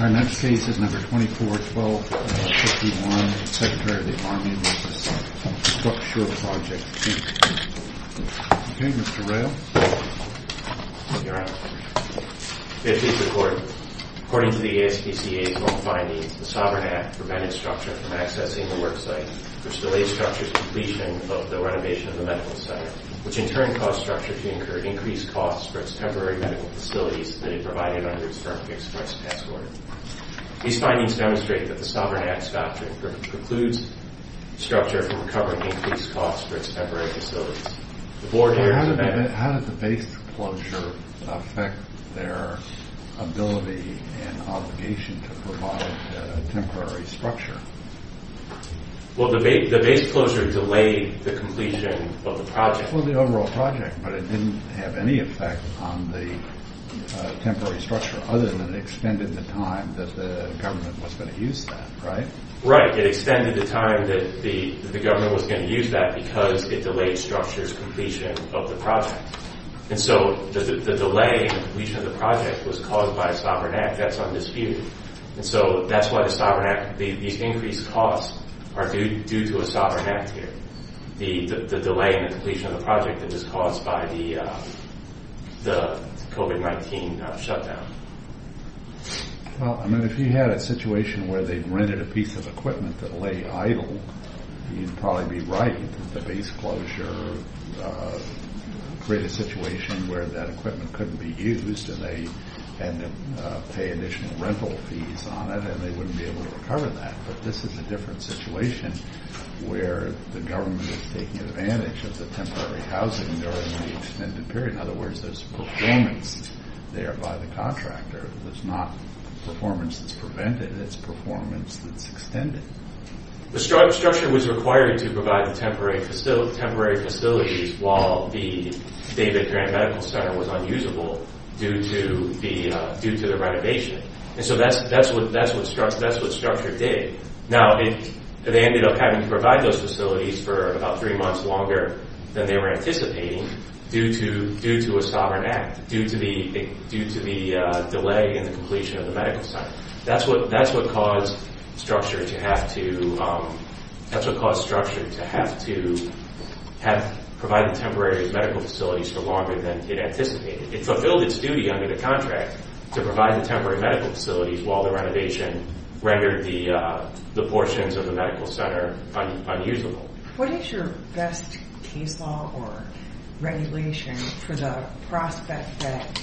Our next case is No. 24-12-51, Secretary of the Army v. StructSure Projects, Inc. Okay, Mr. Rayl. Your Honor, may it please the Court. According to the ASPCA's own findings, the Sovereign Act prevented Structure from accessing the worksite, which delayed Structure's completion of the renovation of the Medical Center, which in turn caused Structure to incur increased costs for its temporary medical facilities than it provided under the Structure Express Passport. These findings demonstrate that the Sovereign Act's doctrine precludes Structure from recovering increased costs for its temporary facilities. How did the base closure affect their ability and obligation to provide temporary Structure? Well, the base closure delayed the completion of the project. That was the overall project, but it didn't have any effect on the temporary Structure other than it extended the time that the government was going to use that, right? Right. It extended the time that the government was going to use that because it delayed Structure's completion of the project. And so the delay in the completion of the project was caused by a Sovereign Act. That's undisputed. And so that's why the Sovereign Act, these increased costs are due to a Sovereign Act here. The delay in the completion of the project is caused by the COVID-19 shutdown. Well, I mean, if you had a situation where they rented a piece of equipment that lay idle, you'd probably be right that the base closure created a situation where that equipment couldn't be used and they had to pay additional rental fees on it and they wouldn't be able to recover that. But this is a different situation where the government is taking advantage of the temporary housing during the extended period. In other words, there's performance there by the contractor. There's not performance that's prevented. It's performance that's extended. The Structure was required to provide the temporary facilities while the David Grant Medical Center was unusable due to the renovation. And so that's what Structure did. Now, they ended up having to provide those facilities for about three months longer than they were anticipating due to a Sovereign Act, due to the delay in the completion of the medical center. That's what caused Structure to have to provide the temporary medical facilities for longer than it anticipated. It fulfilled its duty under the contract to provide the temporary medical facilities while the renovation rendered the portions of the medical center unusable. What is your best case law or regulation for the prospect that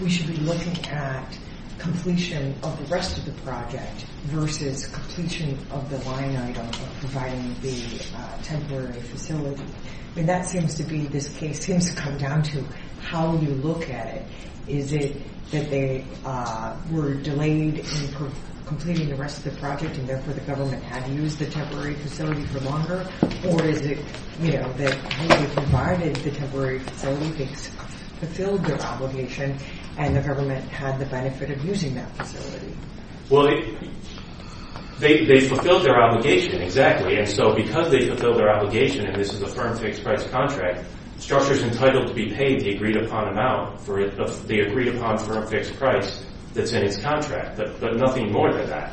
we should be looking at completion of the rest of the project versus completion of the line item of providing the temporary facility? That seems to be, this case seems to come down to how you look at it. Is it that they were delayed in completing the rest of the project and therefore the government had to use the temporary facility for longer? Or is it, you know, that they provided the temporary facility, they fulfilled their obligation, and the government had the benefit of using that facility? Well, they fulfilled their obligation, exactly. And so because they fulfilled their obligation, and this is a firm fixed-price contract, Structure's entitled to be paid the agreed-upon amount, the agreed-upon firm fixed price that's in its contract, but nothing more than that.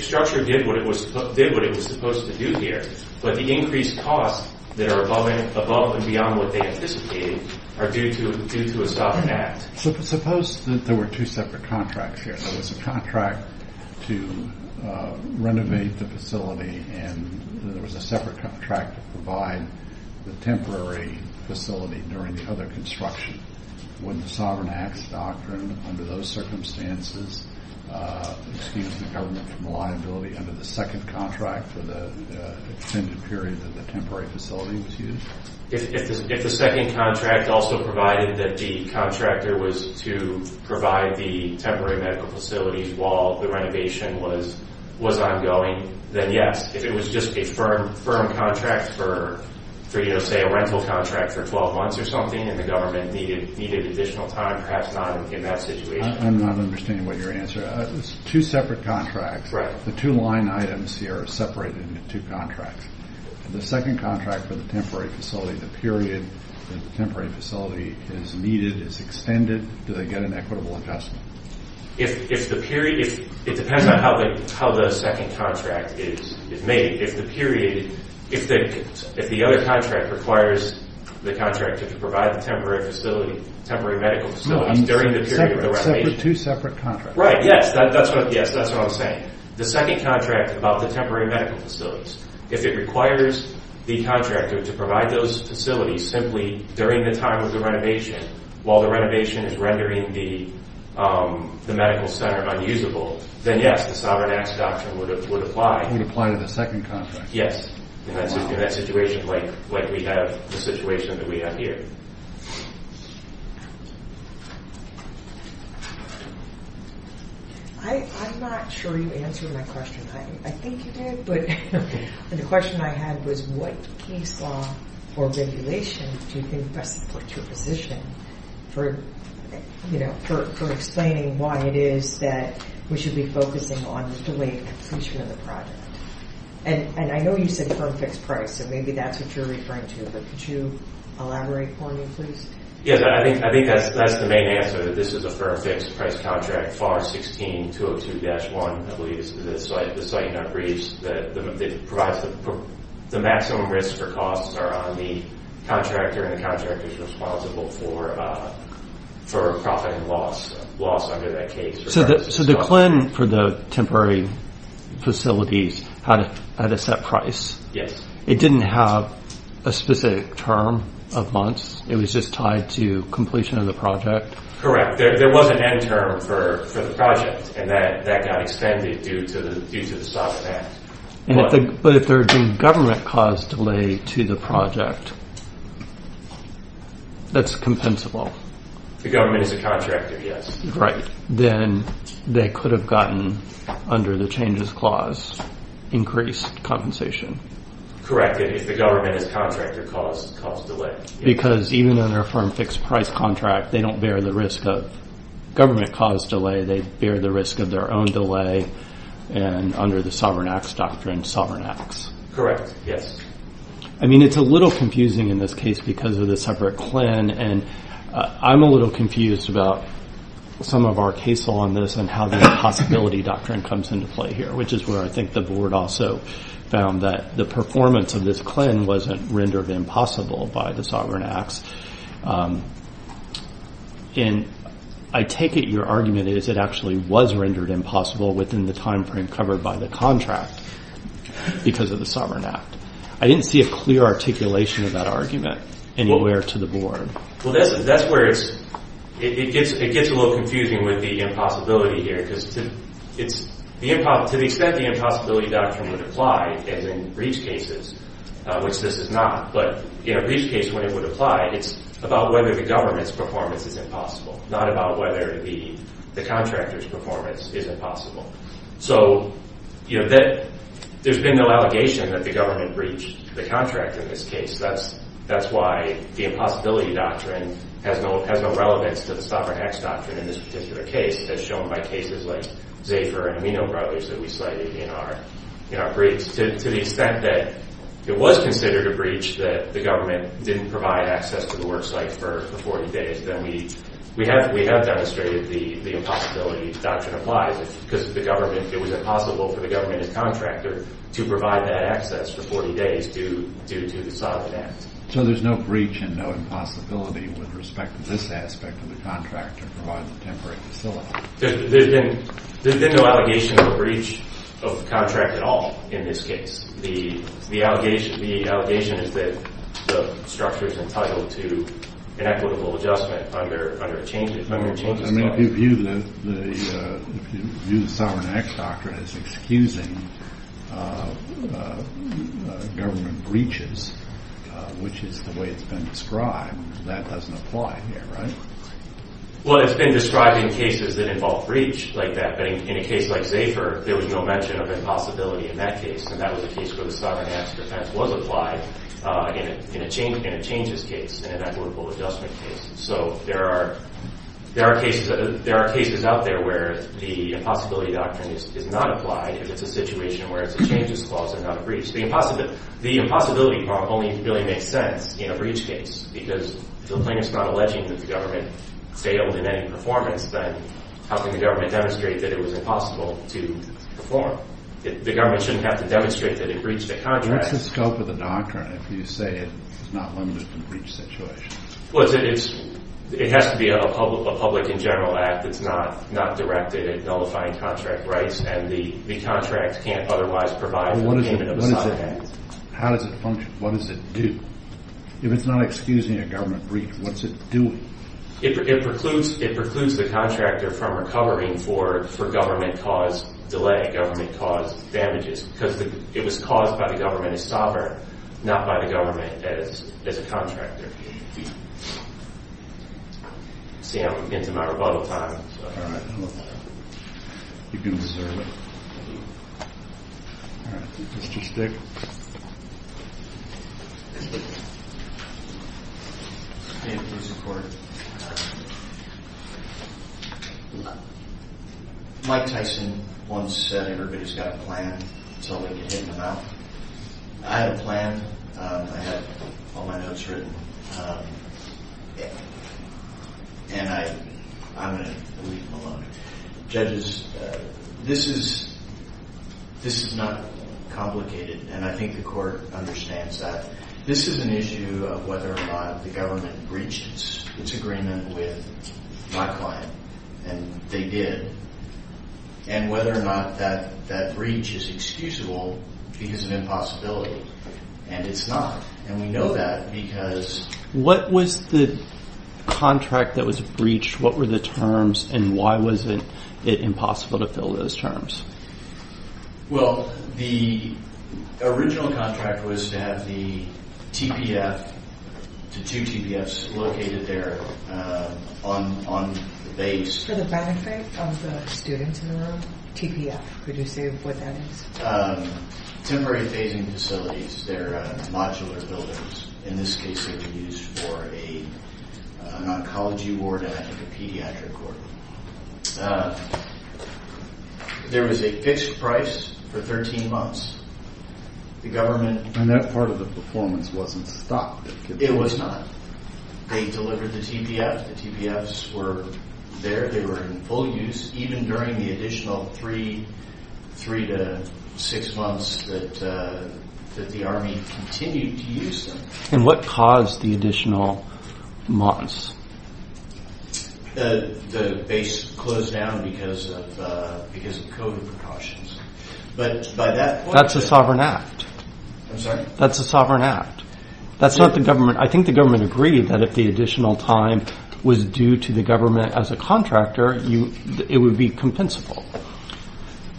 Structure did what it was supposed to do here, but the increased costs that are above and beyond what they anticipated are due to a Sovereign Act. Suppose that there were two separate contracts here. There was a contract to renovate the facility and there was a separate contract to provide the temporary facility during the other construction. Wouldn't the Sovereign Act's doctrine under those circumstances excuse the government from liability under the second contract for the extended period that the temporary facility was used? If the second contract also provided that the contractor was to provide the temporary medical facilities while the renovation was ongoing, then yes. If it was just a firm contract for, say, a rental contract for 12 months or something, and the government needed additional time, perhaps not in that situation. I'm not understanding what your answer is. Two separate contracts. The two line items here are separated into two contracts. The second contract for the temporary facility, the period the temporary facility is needed is extended. Do they get an equitable adjustment? It depends on how the second contract is made. If the other contract requires the contractor to provide the temporary medical facilities during the period of the renovation. Two separate contracts. The second contract about the temporary medical facilities, if it requires the contractor to provide those facilities simply during the time of the renovation, while the renovation is rendering the medical center unusable, then yes, the Sovereign Act's doctrine would apply. It would apply to the second contract. Yes. In that situation, like we have the situation that we have here. I'm not sure you answered my question. I think you did, but the question I had was what case law or regulation do you think best supports your position for explaining why it is that we should be focusing on the delayed completion of the project? And I know you said firm fixed price, so maybe that's what you're referring to, but could you elaborate for me, please? Yeah, I think that's the main answer, that this is a firm fixed price contract, FAR 16-202-1. I believe is the site in our briefs. The maximum risk for costs are on the contractor, and the contractor's responsible for profit and loss under that case. So the CLIN for the temporary facilities had a set price. Yes. It didn't have a specific term of months, it was just tied to completion of the project? Correct. There was an end term for the project, and that got extended due to the stop and ask. But if there had been government caused delay to the project, that's compensable. The government is a contractor, yes. Then they could have gotten, under the changes clause, increased compensation. Correct, if the government is a contractor caused delay. Because even under a firm fixed price contract, they don't bear the risk of government caused delay, they bear the risk of their own delay, and under the Sovereign Acts Doctrine, Sovereign Acts. Correct, yes. I mean, it's a little confusing in this case because of the separate CLIN, and I'm a little confused about some of our case law on this, and how the impossibility doctrine comes into play here, which is where I think the board also found that the performance of this CLIN wasn't rendered impossible by the Sovereign Acts. And I take it your argument is it actually was rendered impossible within the time frame covered by the contract because of the Sovereign Act. I didn't see a clear articulation of that argument anywhere to the board. Well, that's where it gets a little confusing with the impossibility here, because to the extent the impossibility doctrine would apply, as in breach cases, which this is not, but in a breach case, when it would apply, it's about whether the government's performance is impossible, not about whether the contractor's performance is impossible. So there's been no allegation that the government breached the contract in this case. That's why the impossibility doctrine has no relevance to the Sovereign Acts Doctrine in this particular case, as shown by cases like Zephyr and Amino Brothers that we cited in our breach, to the extent that it was considered a breach that the government didn't provide access to the work site for 40 days, then we have demonstrated the impossibility doctrine applies, because it was impossible for the government and contractor to provide that access for 40 days due to the Sovereign Act. So there's no breach and no impossibility with respect to this aspect of the contract to provide the temporary facility? There's been no allegation of a breach of the contract at all in this case. The allegation is that the structure is entitled to an equitable adjustment under a changes doctrine. I mean, if you view the Sovereign Acts Doctrine as excusing government breaches, which is the way it's been described, that doesn't apply here, right? Well, it's been described in cases that involve breach like that, but in a case like Zephyr there was no mention of impossibility in that case, and that was a case where the Sovereign Acts Defense was applied in a changes case, in an equitable adjustment case. So there are cases out there where the impossibility doctrine is not applied if it's a situation where it's a changes clause and not a breach. The impossibility only really makes sense in a breach case, because if the plaintiff's not alleging that the government failed in any performance, then how can the government demonstrate that it was impossible to perform? The government shouldn't have to demonstrate that it breached the contract. What's the scope of the doctrine if you say it's not limited to breach situations? Well, it has to be a public and general act that's not directed at nullifying contract rights, and the contract can't otherwise provide for payment of side acts. How does it function? What does it do? If it's not excusing a government breach, what's it doing? It precludes the contractor from recovering for government-caused delay, government-caused damages, because it was caused by the government as sovereign, not by the government as a contractor. See, I'm getting to my rebuttal time. All right. You deserve it. All right. Mr. Stig. Mike Tyson once said everybody's got a plan until they get hit in the mouth. I have a plan. I have all my notes written. And I'm going to leave him alone. Judges, this is not complicated, and I think the Court understands that. This is an issue of whether or not the government breached its agreement with my client, and they did, and whether or not that breach is excusable because of impossibility, and it's not. And we know that because... What was the contract that was breached? What were the terms, and why was it impossible to fill those terms? Well, the original contract was to have the TPF to two TPFs located there on the base. For the benefit of the students in the room, TPF, could you say what that is? Temporary Phasing Facilities. They're modular buildings. In this case, they're used for an oncology ward and a pediatric ward. There was a fixed price for 13 months. The government... And that part of the performance wasn't stopped? It was not. They delivered the TPFs. The TPFs were there. They were in full use, even during the additional three to six months that the Army continued to use them. And what caused the additional months? The base closed down because of COVID precautions. But by that point... That's a sovereign act. I'm sorry? That's a sovereign act. I think the government agreed that if the additional time was due to the government as a contractor, it would be compensable.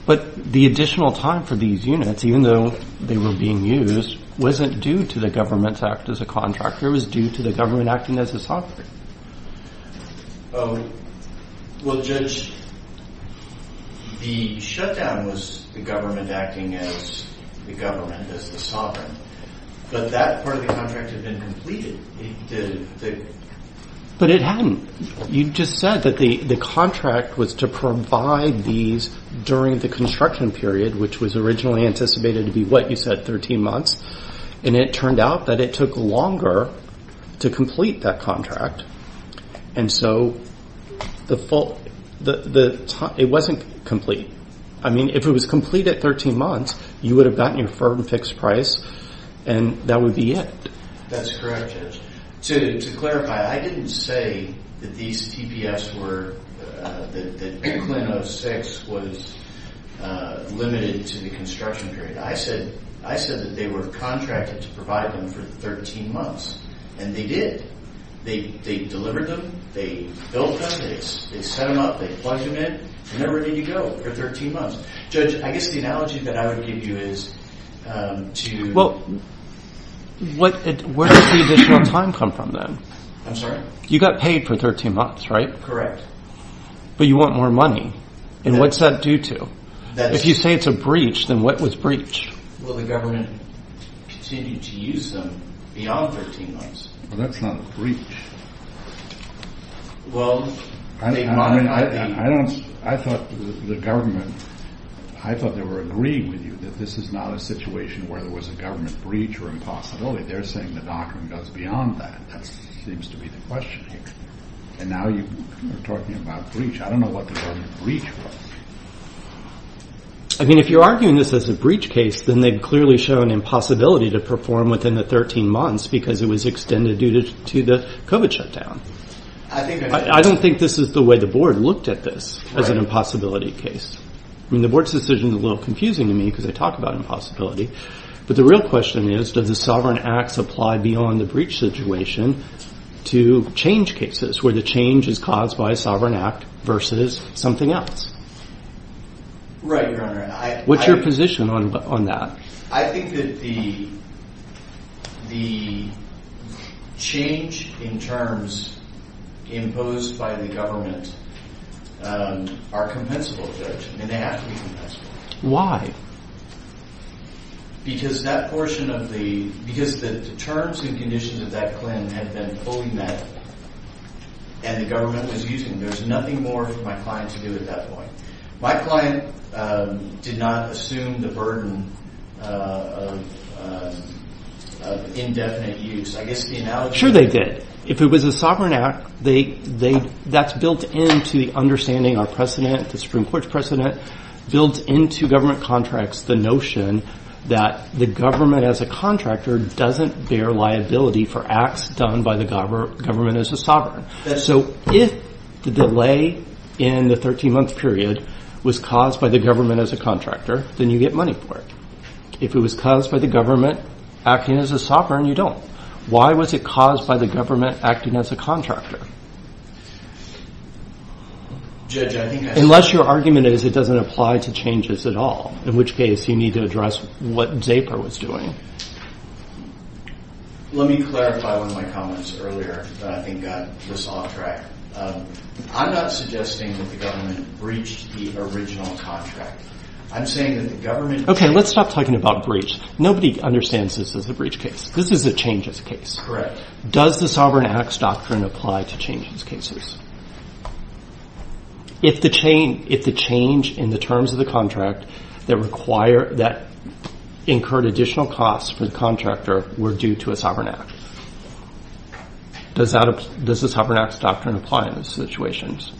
But the additional time for these units, even though they were being used, wasn't due to the government's act as a contractor. It was due to the government acting as a sovereign. Well, Judge, the shutdown was the government acting as the government, as the sovereign. But that part of the contract had been completed. But it hadn't. You just said that the contract was to provide these during the construction period, which was originally anticipated to be, what you said, 13 months. And it turned out that it took longer to complete that contract. And so, it wasn't complete. I mean, if it was complete at 13 months, you would have gotten your firm fixed price, and that would be it. That's correct, Judge. To clarify, I didn't say that these that CLIN 06 was limited to the construction period. I said that they were contracted to provide them for 13 months. And they did. They delivered them. They built them. They set them up. They plugged them in. And they're ready to go for 13 months. Judge, I guess the analogy that I would give you is to... Well, where did the additional time come from, then? I'm sorry? You got paid for 13 months, right? Correct. But you want more money. And what's that due to? If you say it's a breach, then what was breached? Well, the government continued to use them beyond 13 months. Well, that's not a breach. I thought the government... I thought they were agreeing with you that this is not a situation where there was a government breach or impossibility. They're saying the doctrine goes beyond that. That seems to be the question. And now you're talking about breach. I don't know what the government breach was. I mean, if you're arguing this as a breach case, then they've clearly shown impossibility to perform within the 13 months because it was extended due to the COVID shutdown. I don't think this is the way the board looked at this as an impossibility case. I mean, the board's decision is a little confusing to me because I talk about impossibility. But the real question is, does the sovereign acts apply beyond the breach situation to change cases where the change is caused by a sovereign act versus something else? Right, Your Honor. What's your position on that? I think that the change in terms imposed by the government are compensable, Judge, and they have to be compensable. Why? Because that portion of the because the terms and conditions of that claim have been fully met and the government was using them. There's nothing more for my client to do at that point. My client did not assume the burden of indefinite use. I guess the analogy... Sure they did. If it was a sovereign act, that's built into the understanding our precedent, the Supreme Court's precedent, built into government contracts the notion that the government as a contractor doesn't bear liability for acts done by the government as a sovereign. So if the delay in the 13-month period was caused by the government as a contractor, then you get money for it. If it was caused by the government acting as a sovereign, you don't. Why was it caused by the government acting as a contractor? Unless your argument is it doesn't apply to changes at all, in which case you need to address what Zaper was doing. Let me clarify one of my comments earlier that I think got this off track. I'm not suggesting that the government breached the original contract. I'm saying that the government... Okay, let's stop talking about breach. Nobody understands this as a breach case. This is a changes case. Correct. Does the sovereign acts doctrine apply to changes cases? If the change in the contract that incurred additional costs for the contractor were due to a sovereign act. Does the sovereign acts doctrine apply in those situations?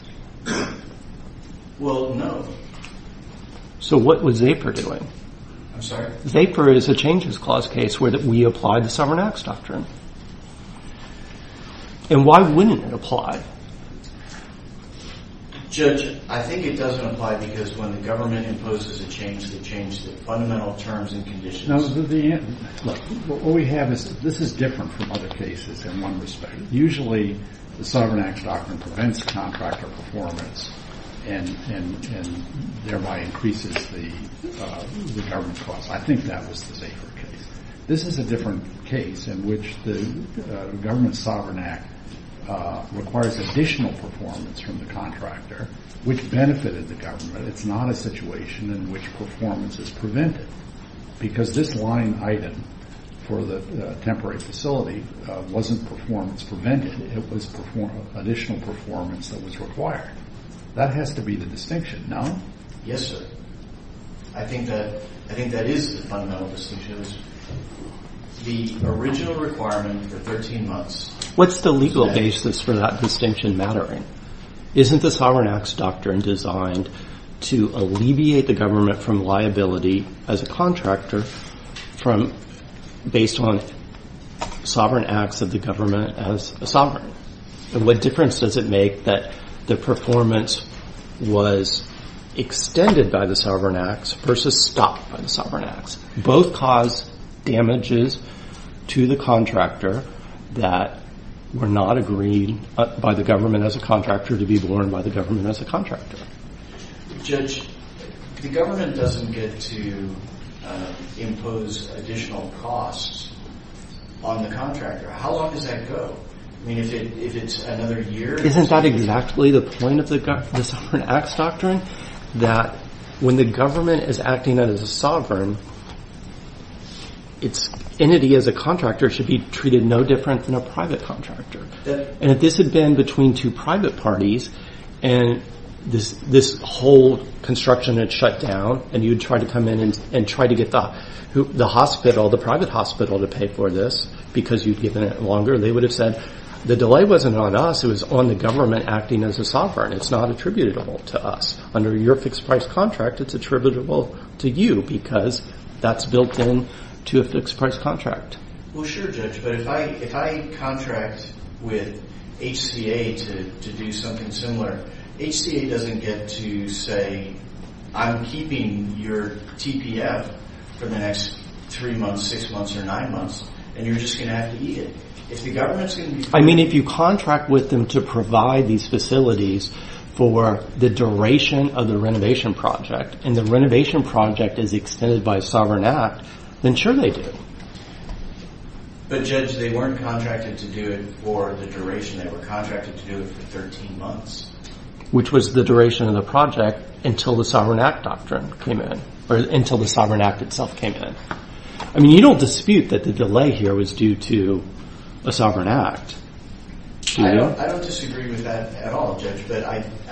Well, no. So what was Zaper doing? I'm sorry? Zaper is a changes clause case where we apply the sovereign acts doctrine. And why wouldn't it apply? Judge, I think it doesn't apply because when the government imposes a change, the change to fundamental terms and conditions... No, the... Look, what we have is this is different from other cases in one respect. Usually the sovereign acts doctrine prevents contractor performance and thereby increases the government cost. I think that was the Zaper case. This is a different case in which the government sovereign act requires additional performance from the contractor, which benefited the government. It's not a situation in which performance is prevented. Because this line item for the temporary facility wasn't performance prevented. It was additional performance that was required. That has to be the distinction. No? Yes, sir. I think that is the fundamental distinction. The original requirement for 13 months... What's the legal basis for that distinction mattering? Isn't the sovereign acts doctrine designed to alleviate the government from liability as a contractor based on sovereign acts of the government as a sovereign? What difference does it make that the performance was extended by the sovereign acts versus stopped by the sovereign acts? Both cause damages to the contractor that were not agreed by the government as a contractor to be borne by the government as a contractor. Judge, the government doesn't get to impose additional costs on the contractor. How long does that go? I mean, if it's another year... Isn't that exactly the point of the sovereign acts doctrine? That when the government is acting as a sovereign, its entity as a contractor should be treated no different than a private contractor. If this had been between two private parties and this whole construction had shut down and you'd try to come in and try to get the private hospital to pay for this because you'd given it longer, they would have said, the delay wasn't on us, it was on the government acting as a sovereign. It's not attributable to us. Under your fixed price contract, it's attributable to you because that's built into a fixed price contract. Well, sure, Judge, but if I contract with HCA to do something similar, HCA doesn't get to say, I'm keeping your TPF for the next three months, six months, or nine months, and you're just going to have to eat it. I mean, if you contract with them to provide these facilities for the duration of the renovation project, and the renovation project is extended by a sovereign act, then sure they do. But, Judge, they weren't contracted to do it for the duration. They were contracted to do it for 13 months. Which was the duration of the project until the sovereign act doctrine came in, or until the sovereign act itself came in. I mean, you don't dispute that the delay here was due to a sovereign act, do you? I don't disagree with that at all, Judge.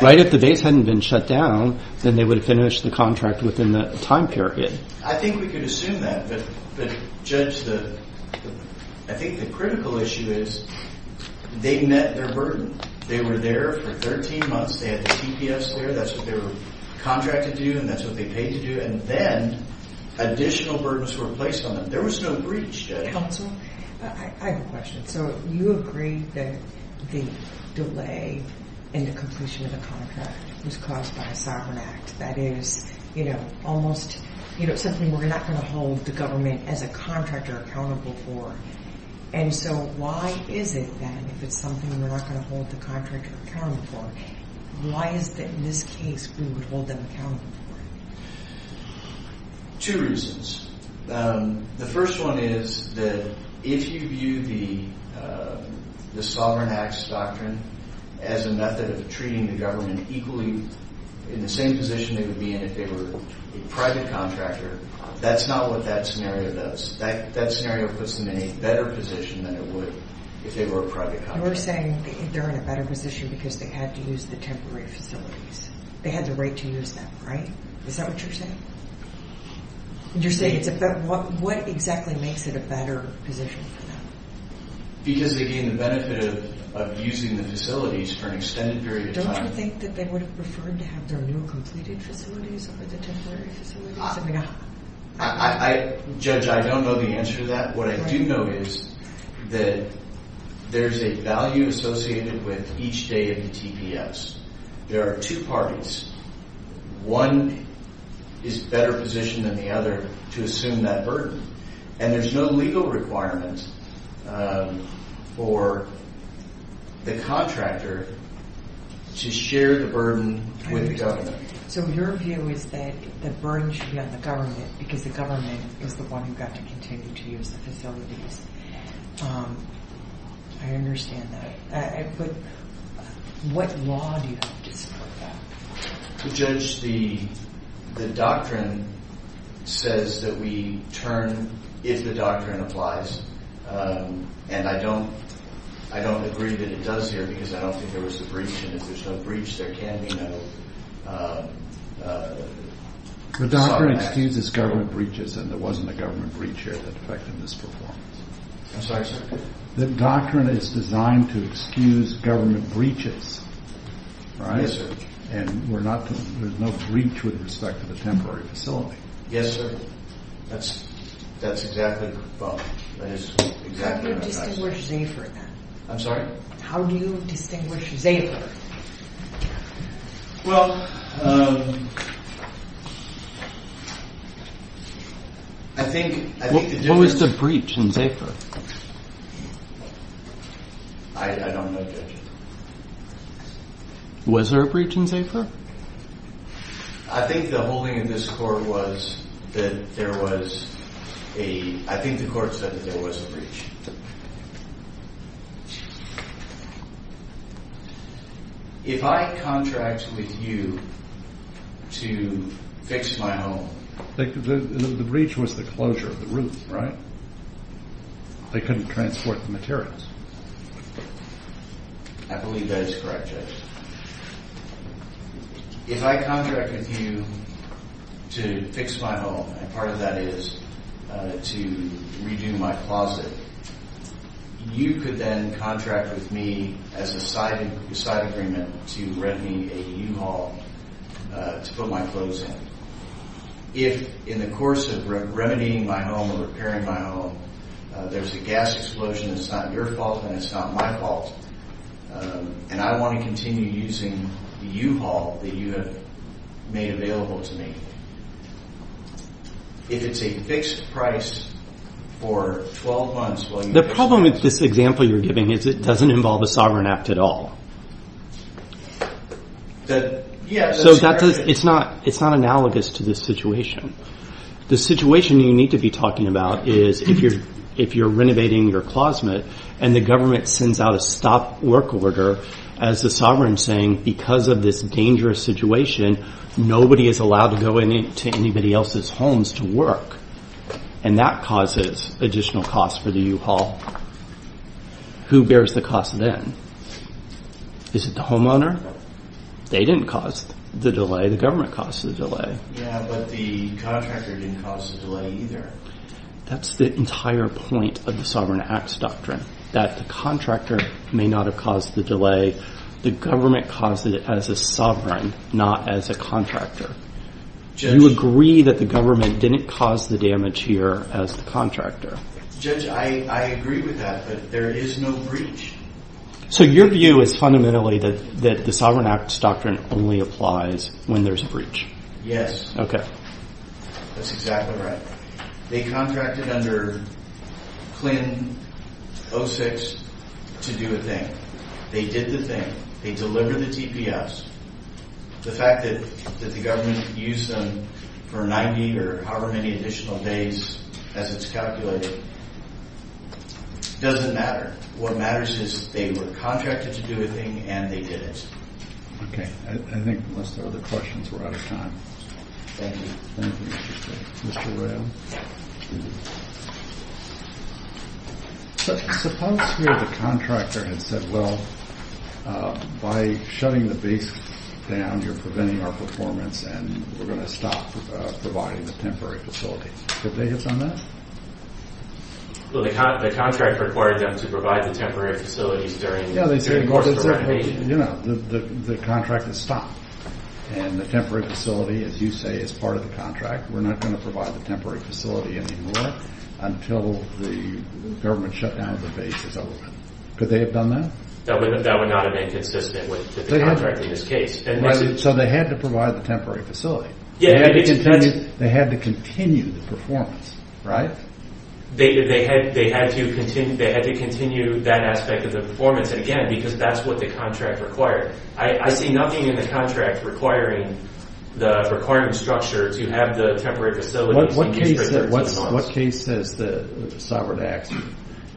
Right, if the base hadn't been shut down, then they would have finished the contract within the time period. I think we could assume that, but, Judge, I think the critical issue is they met their burden. They were there for 13 months, they had the TPFs there, that's what they were contracted to do, and that's what they paid to do, and then additional burdens were placed on them. There was no breach. Counsel, I have a question. So you agree that the delay in the completion of the contract was caused by a sovereign act. That is, you know, almost something we're not going to hold the government as a contractor accountable for. And so why is it, then, if it's something we're not going to hold the contractor accountable for, why is it that in this case we would hold them accountable for it? Two reasons. The first one is that if you view the sovereign acts doctrine as a method of treating the government equally, in the same position they would be in if they were a private contractor, that's not what that scenario does. That scenario puts them in a better position than it would if they were a private contractor. You're saying they're in a better position because they had to use the temporary facilities. They had the right to use them, right? Is that what you're saying? You're saying it's a better, what exactly makes it a better position for them? Because they gain the benefit of using the facilities for an extended period of time. Don't you think that they would have preferred to have their renewal-completed facilities over the temporary facilities? Judge, I don't know the answer to that. What I do know is that there's a value associated with each day of the TPS. There are two parties. One is better positioned than the other to assume that burden. And there's no legal requirement for the contractor to share the burden with the government. So your view is that the burden should be on the government because the government is the one who got to continue to use the facilities. I understand that. But what law do you have to support that? Judge, the doctrine says that we turn if the doctrine applies. And I don't agree that it does here because I don't think there was a breach. And if there's no breach, there can be no The doctrine excuses government breaches and there wasn't a government breach here that affected this performance. I'm sorry, sir. The doctrine is designed to excuse government breaches, right? Yes, sir. And there's no breach with respect to the temporary facility. Yes, sir. That's exactly How do you distinguish Zafir then? I'm sorry? How do you distinguish Zafir? What was the breach in Zafir? I don't know, Judge. Was there a breach in Zafir? I think the holding in this court was that there was a... I think the court said that there was a breach. If I contract with you to fix my home... The breach was the closure of the roof, right? They couldn't transport the materials. I believe that is correct, Judge. If I contract with you to fix my home, and part of that is to redo my closet, you could then contract with me as a side agreement to rent me a U-Haul to put my clothes in. If in the course of remedying my home or repairing my home there's a gas explosion, it's not your fault and it's not my fault. And I want to continue using the U-Haul that you have made available to me. If it's a fixed price for 12 months The problem with this example you're giving is that it doesn't involve a sovereign act at all. It's not analogous to this situation. The situation you need to be talking about is if you're renovating your closet and the government sends out a stop work order as the sovereign saying because of this dangerous situation nobody is allowed to go into anybody else's homes to work. And that causes additional costs for the U-Haul. Who bears the cost then? Is it the homeowner? They didn't cause the delay, the government caused the delay. Yeah, but the contractor didn't cause the delay either. That's the entire point of the Sovereign Acts Doctrine. That the contractor may not have caused the delay, the government caused it as a sovereign, not as a contractor. You agree that the government didn't cause the damage here as the contractor. Judge, I agree with that, but there is no breach. So your view is fundamentally that the Sovereign Acts Doctrine only applies when there's a breach. Yes. That's exactly right. They contracted under CLIN 06 to do a thing. They did the thing. They delivered the TPS. The fact that the government used them for 90 or however many additional days as it's calculated doesn't matter. What matters is they were contracted to do a thing and they did it. Okay. I think unless there are other questions, we're out of time. Thank you, Mr. Rayl. Suppose here the contractor had said, well, by shutting the base down, you're preventing our performance and we're going to stop providing the temporary facilities. Did they hit on that? Well, the contractor required them to provide the temporary facilities during You know, the contract is stopped and the temporary facility, as you say, is part of the contract. We're not going to provide the temporary facility anymore until the government shutdown of the base is over. Could they have done that? That would not have been consistent with the contract in this case. So they had to provide the temporary facility. They had to continue the performance, right? They had to continue that aspect of the performance. And again, because that's what the contract required. I see nothing in the contract requiring the requirement structure to have the temporary facilities. What case says the sovereign acts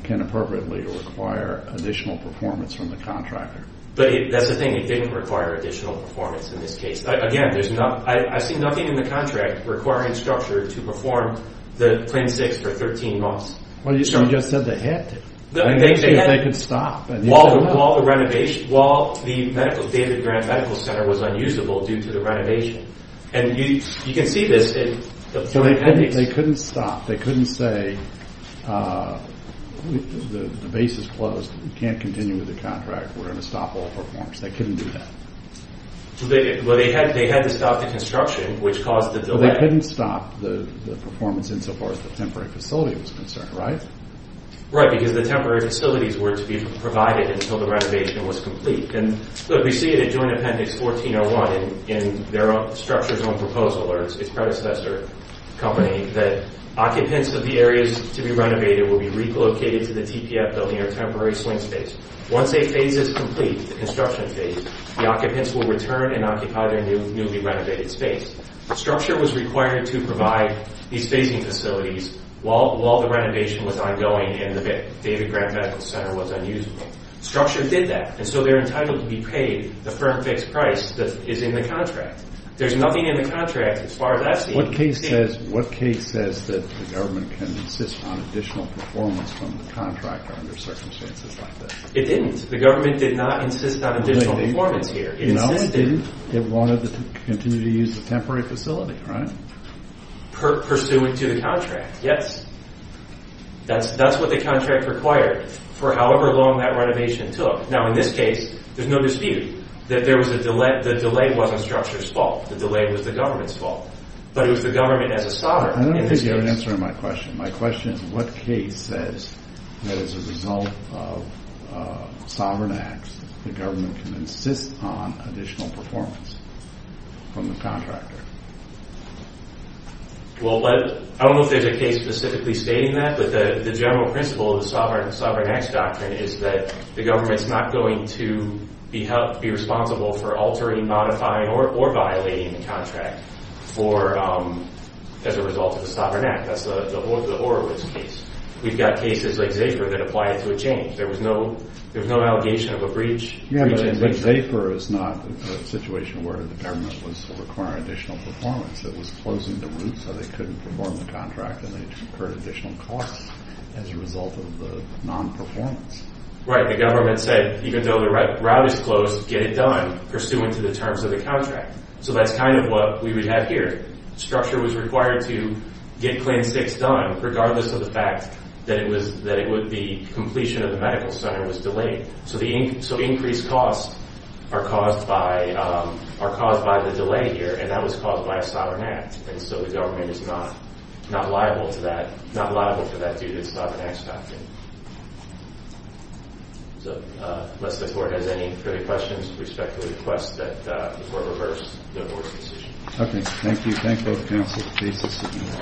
can appropriately require additional performance from the contractor? That's the thing. It didn't require additional performance in this case. Again, I see nothing in the contract requiring structure to perform the plan 6 for 13 months. Well, you just said they had to. They could stop. While the renovation, while the medical, David Grant Medical Center was unusable due to the renovation. And you can see this in the They couldn't stop. They couldn't say the base is closed. We can't continue with the contract. We're going to stop all performance. They couldn't do that. Well, they had to stop the construction, which caused the delay. Well, they couldn't stop the performance insofar as the temporary facility was concerned, right? Right, because the temporary facilities were to be provided until the renovation was complete. And we see it in Joint Appendix 1401 in their structure's own proposal, or its predecessor company, that occupants of the areas to be renovated will be relocated to the TPF building or temporary swing space. Once a phase is complete, the construction phase, the occupants will return and occupy their newly renovated space. The structure was required to provide these phasing facilities while the renovation was ongoing and the David Grant Medical Center was unusable. The structure did that, and so they're entitled to be paid the firm fixed price that is in the contract. There's nothing in the contract as far as that's concerned. What case says that the government can insist on additional performance from the contract under circumstances like this? It didn't. The government did not insist on additional performance here. No, it didn't. It wanted to continue to use the temporary facility, right? Pursuant to the contract, yes. That's what the contract required for however long that renovation took. Now, in this case, there's no dispute that the delay wasn't the structure's fault. The delay was the government's fault. But it was the government as a sovereign in this case. I don't think you have an answer to my question. My question is what case says that as a result of sovereign acts, the government can insist on additional performance from the contractor? Well, I don't know if there's a case specifically stating that, but the general principle of the sovereign acts doctrine is that the government is not going to be responsible for altering, modifying, or violating the contract as a result of the sovereign act. That's the Horowitz case. We've got cases like Zaper that applied to a change. There was no allegation of a breach. Yeah, but Zaper is not a situation where the government was requiring additional performance. It was closing the route so they couldn't perform the contract and they incurred additional costs as a result of the non-performance. Right. The government said, even though the route is closed, get it done pursuant to the terms of the contract. So that's kind of what we would have here. Structure was required to get Claim 6 done regardless of the fact that it would be completion of the medical center was delayed. So increased costs are caused by the delay here, and that was caused by a sovereign act. So the government is not liable for that due to the sovereign acts doctrine. Unless the Court has any further questions, I respectfully request that the Court reverse the Board's decision.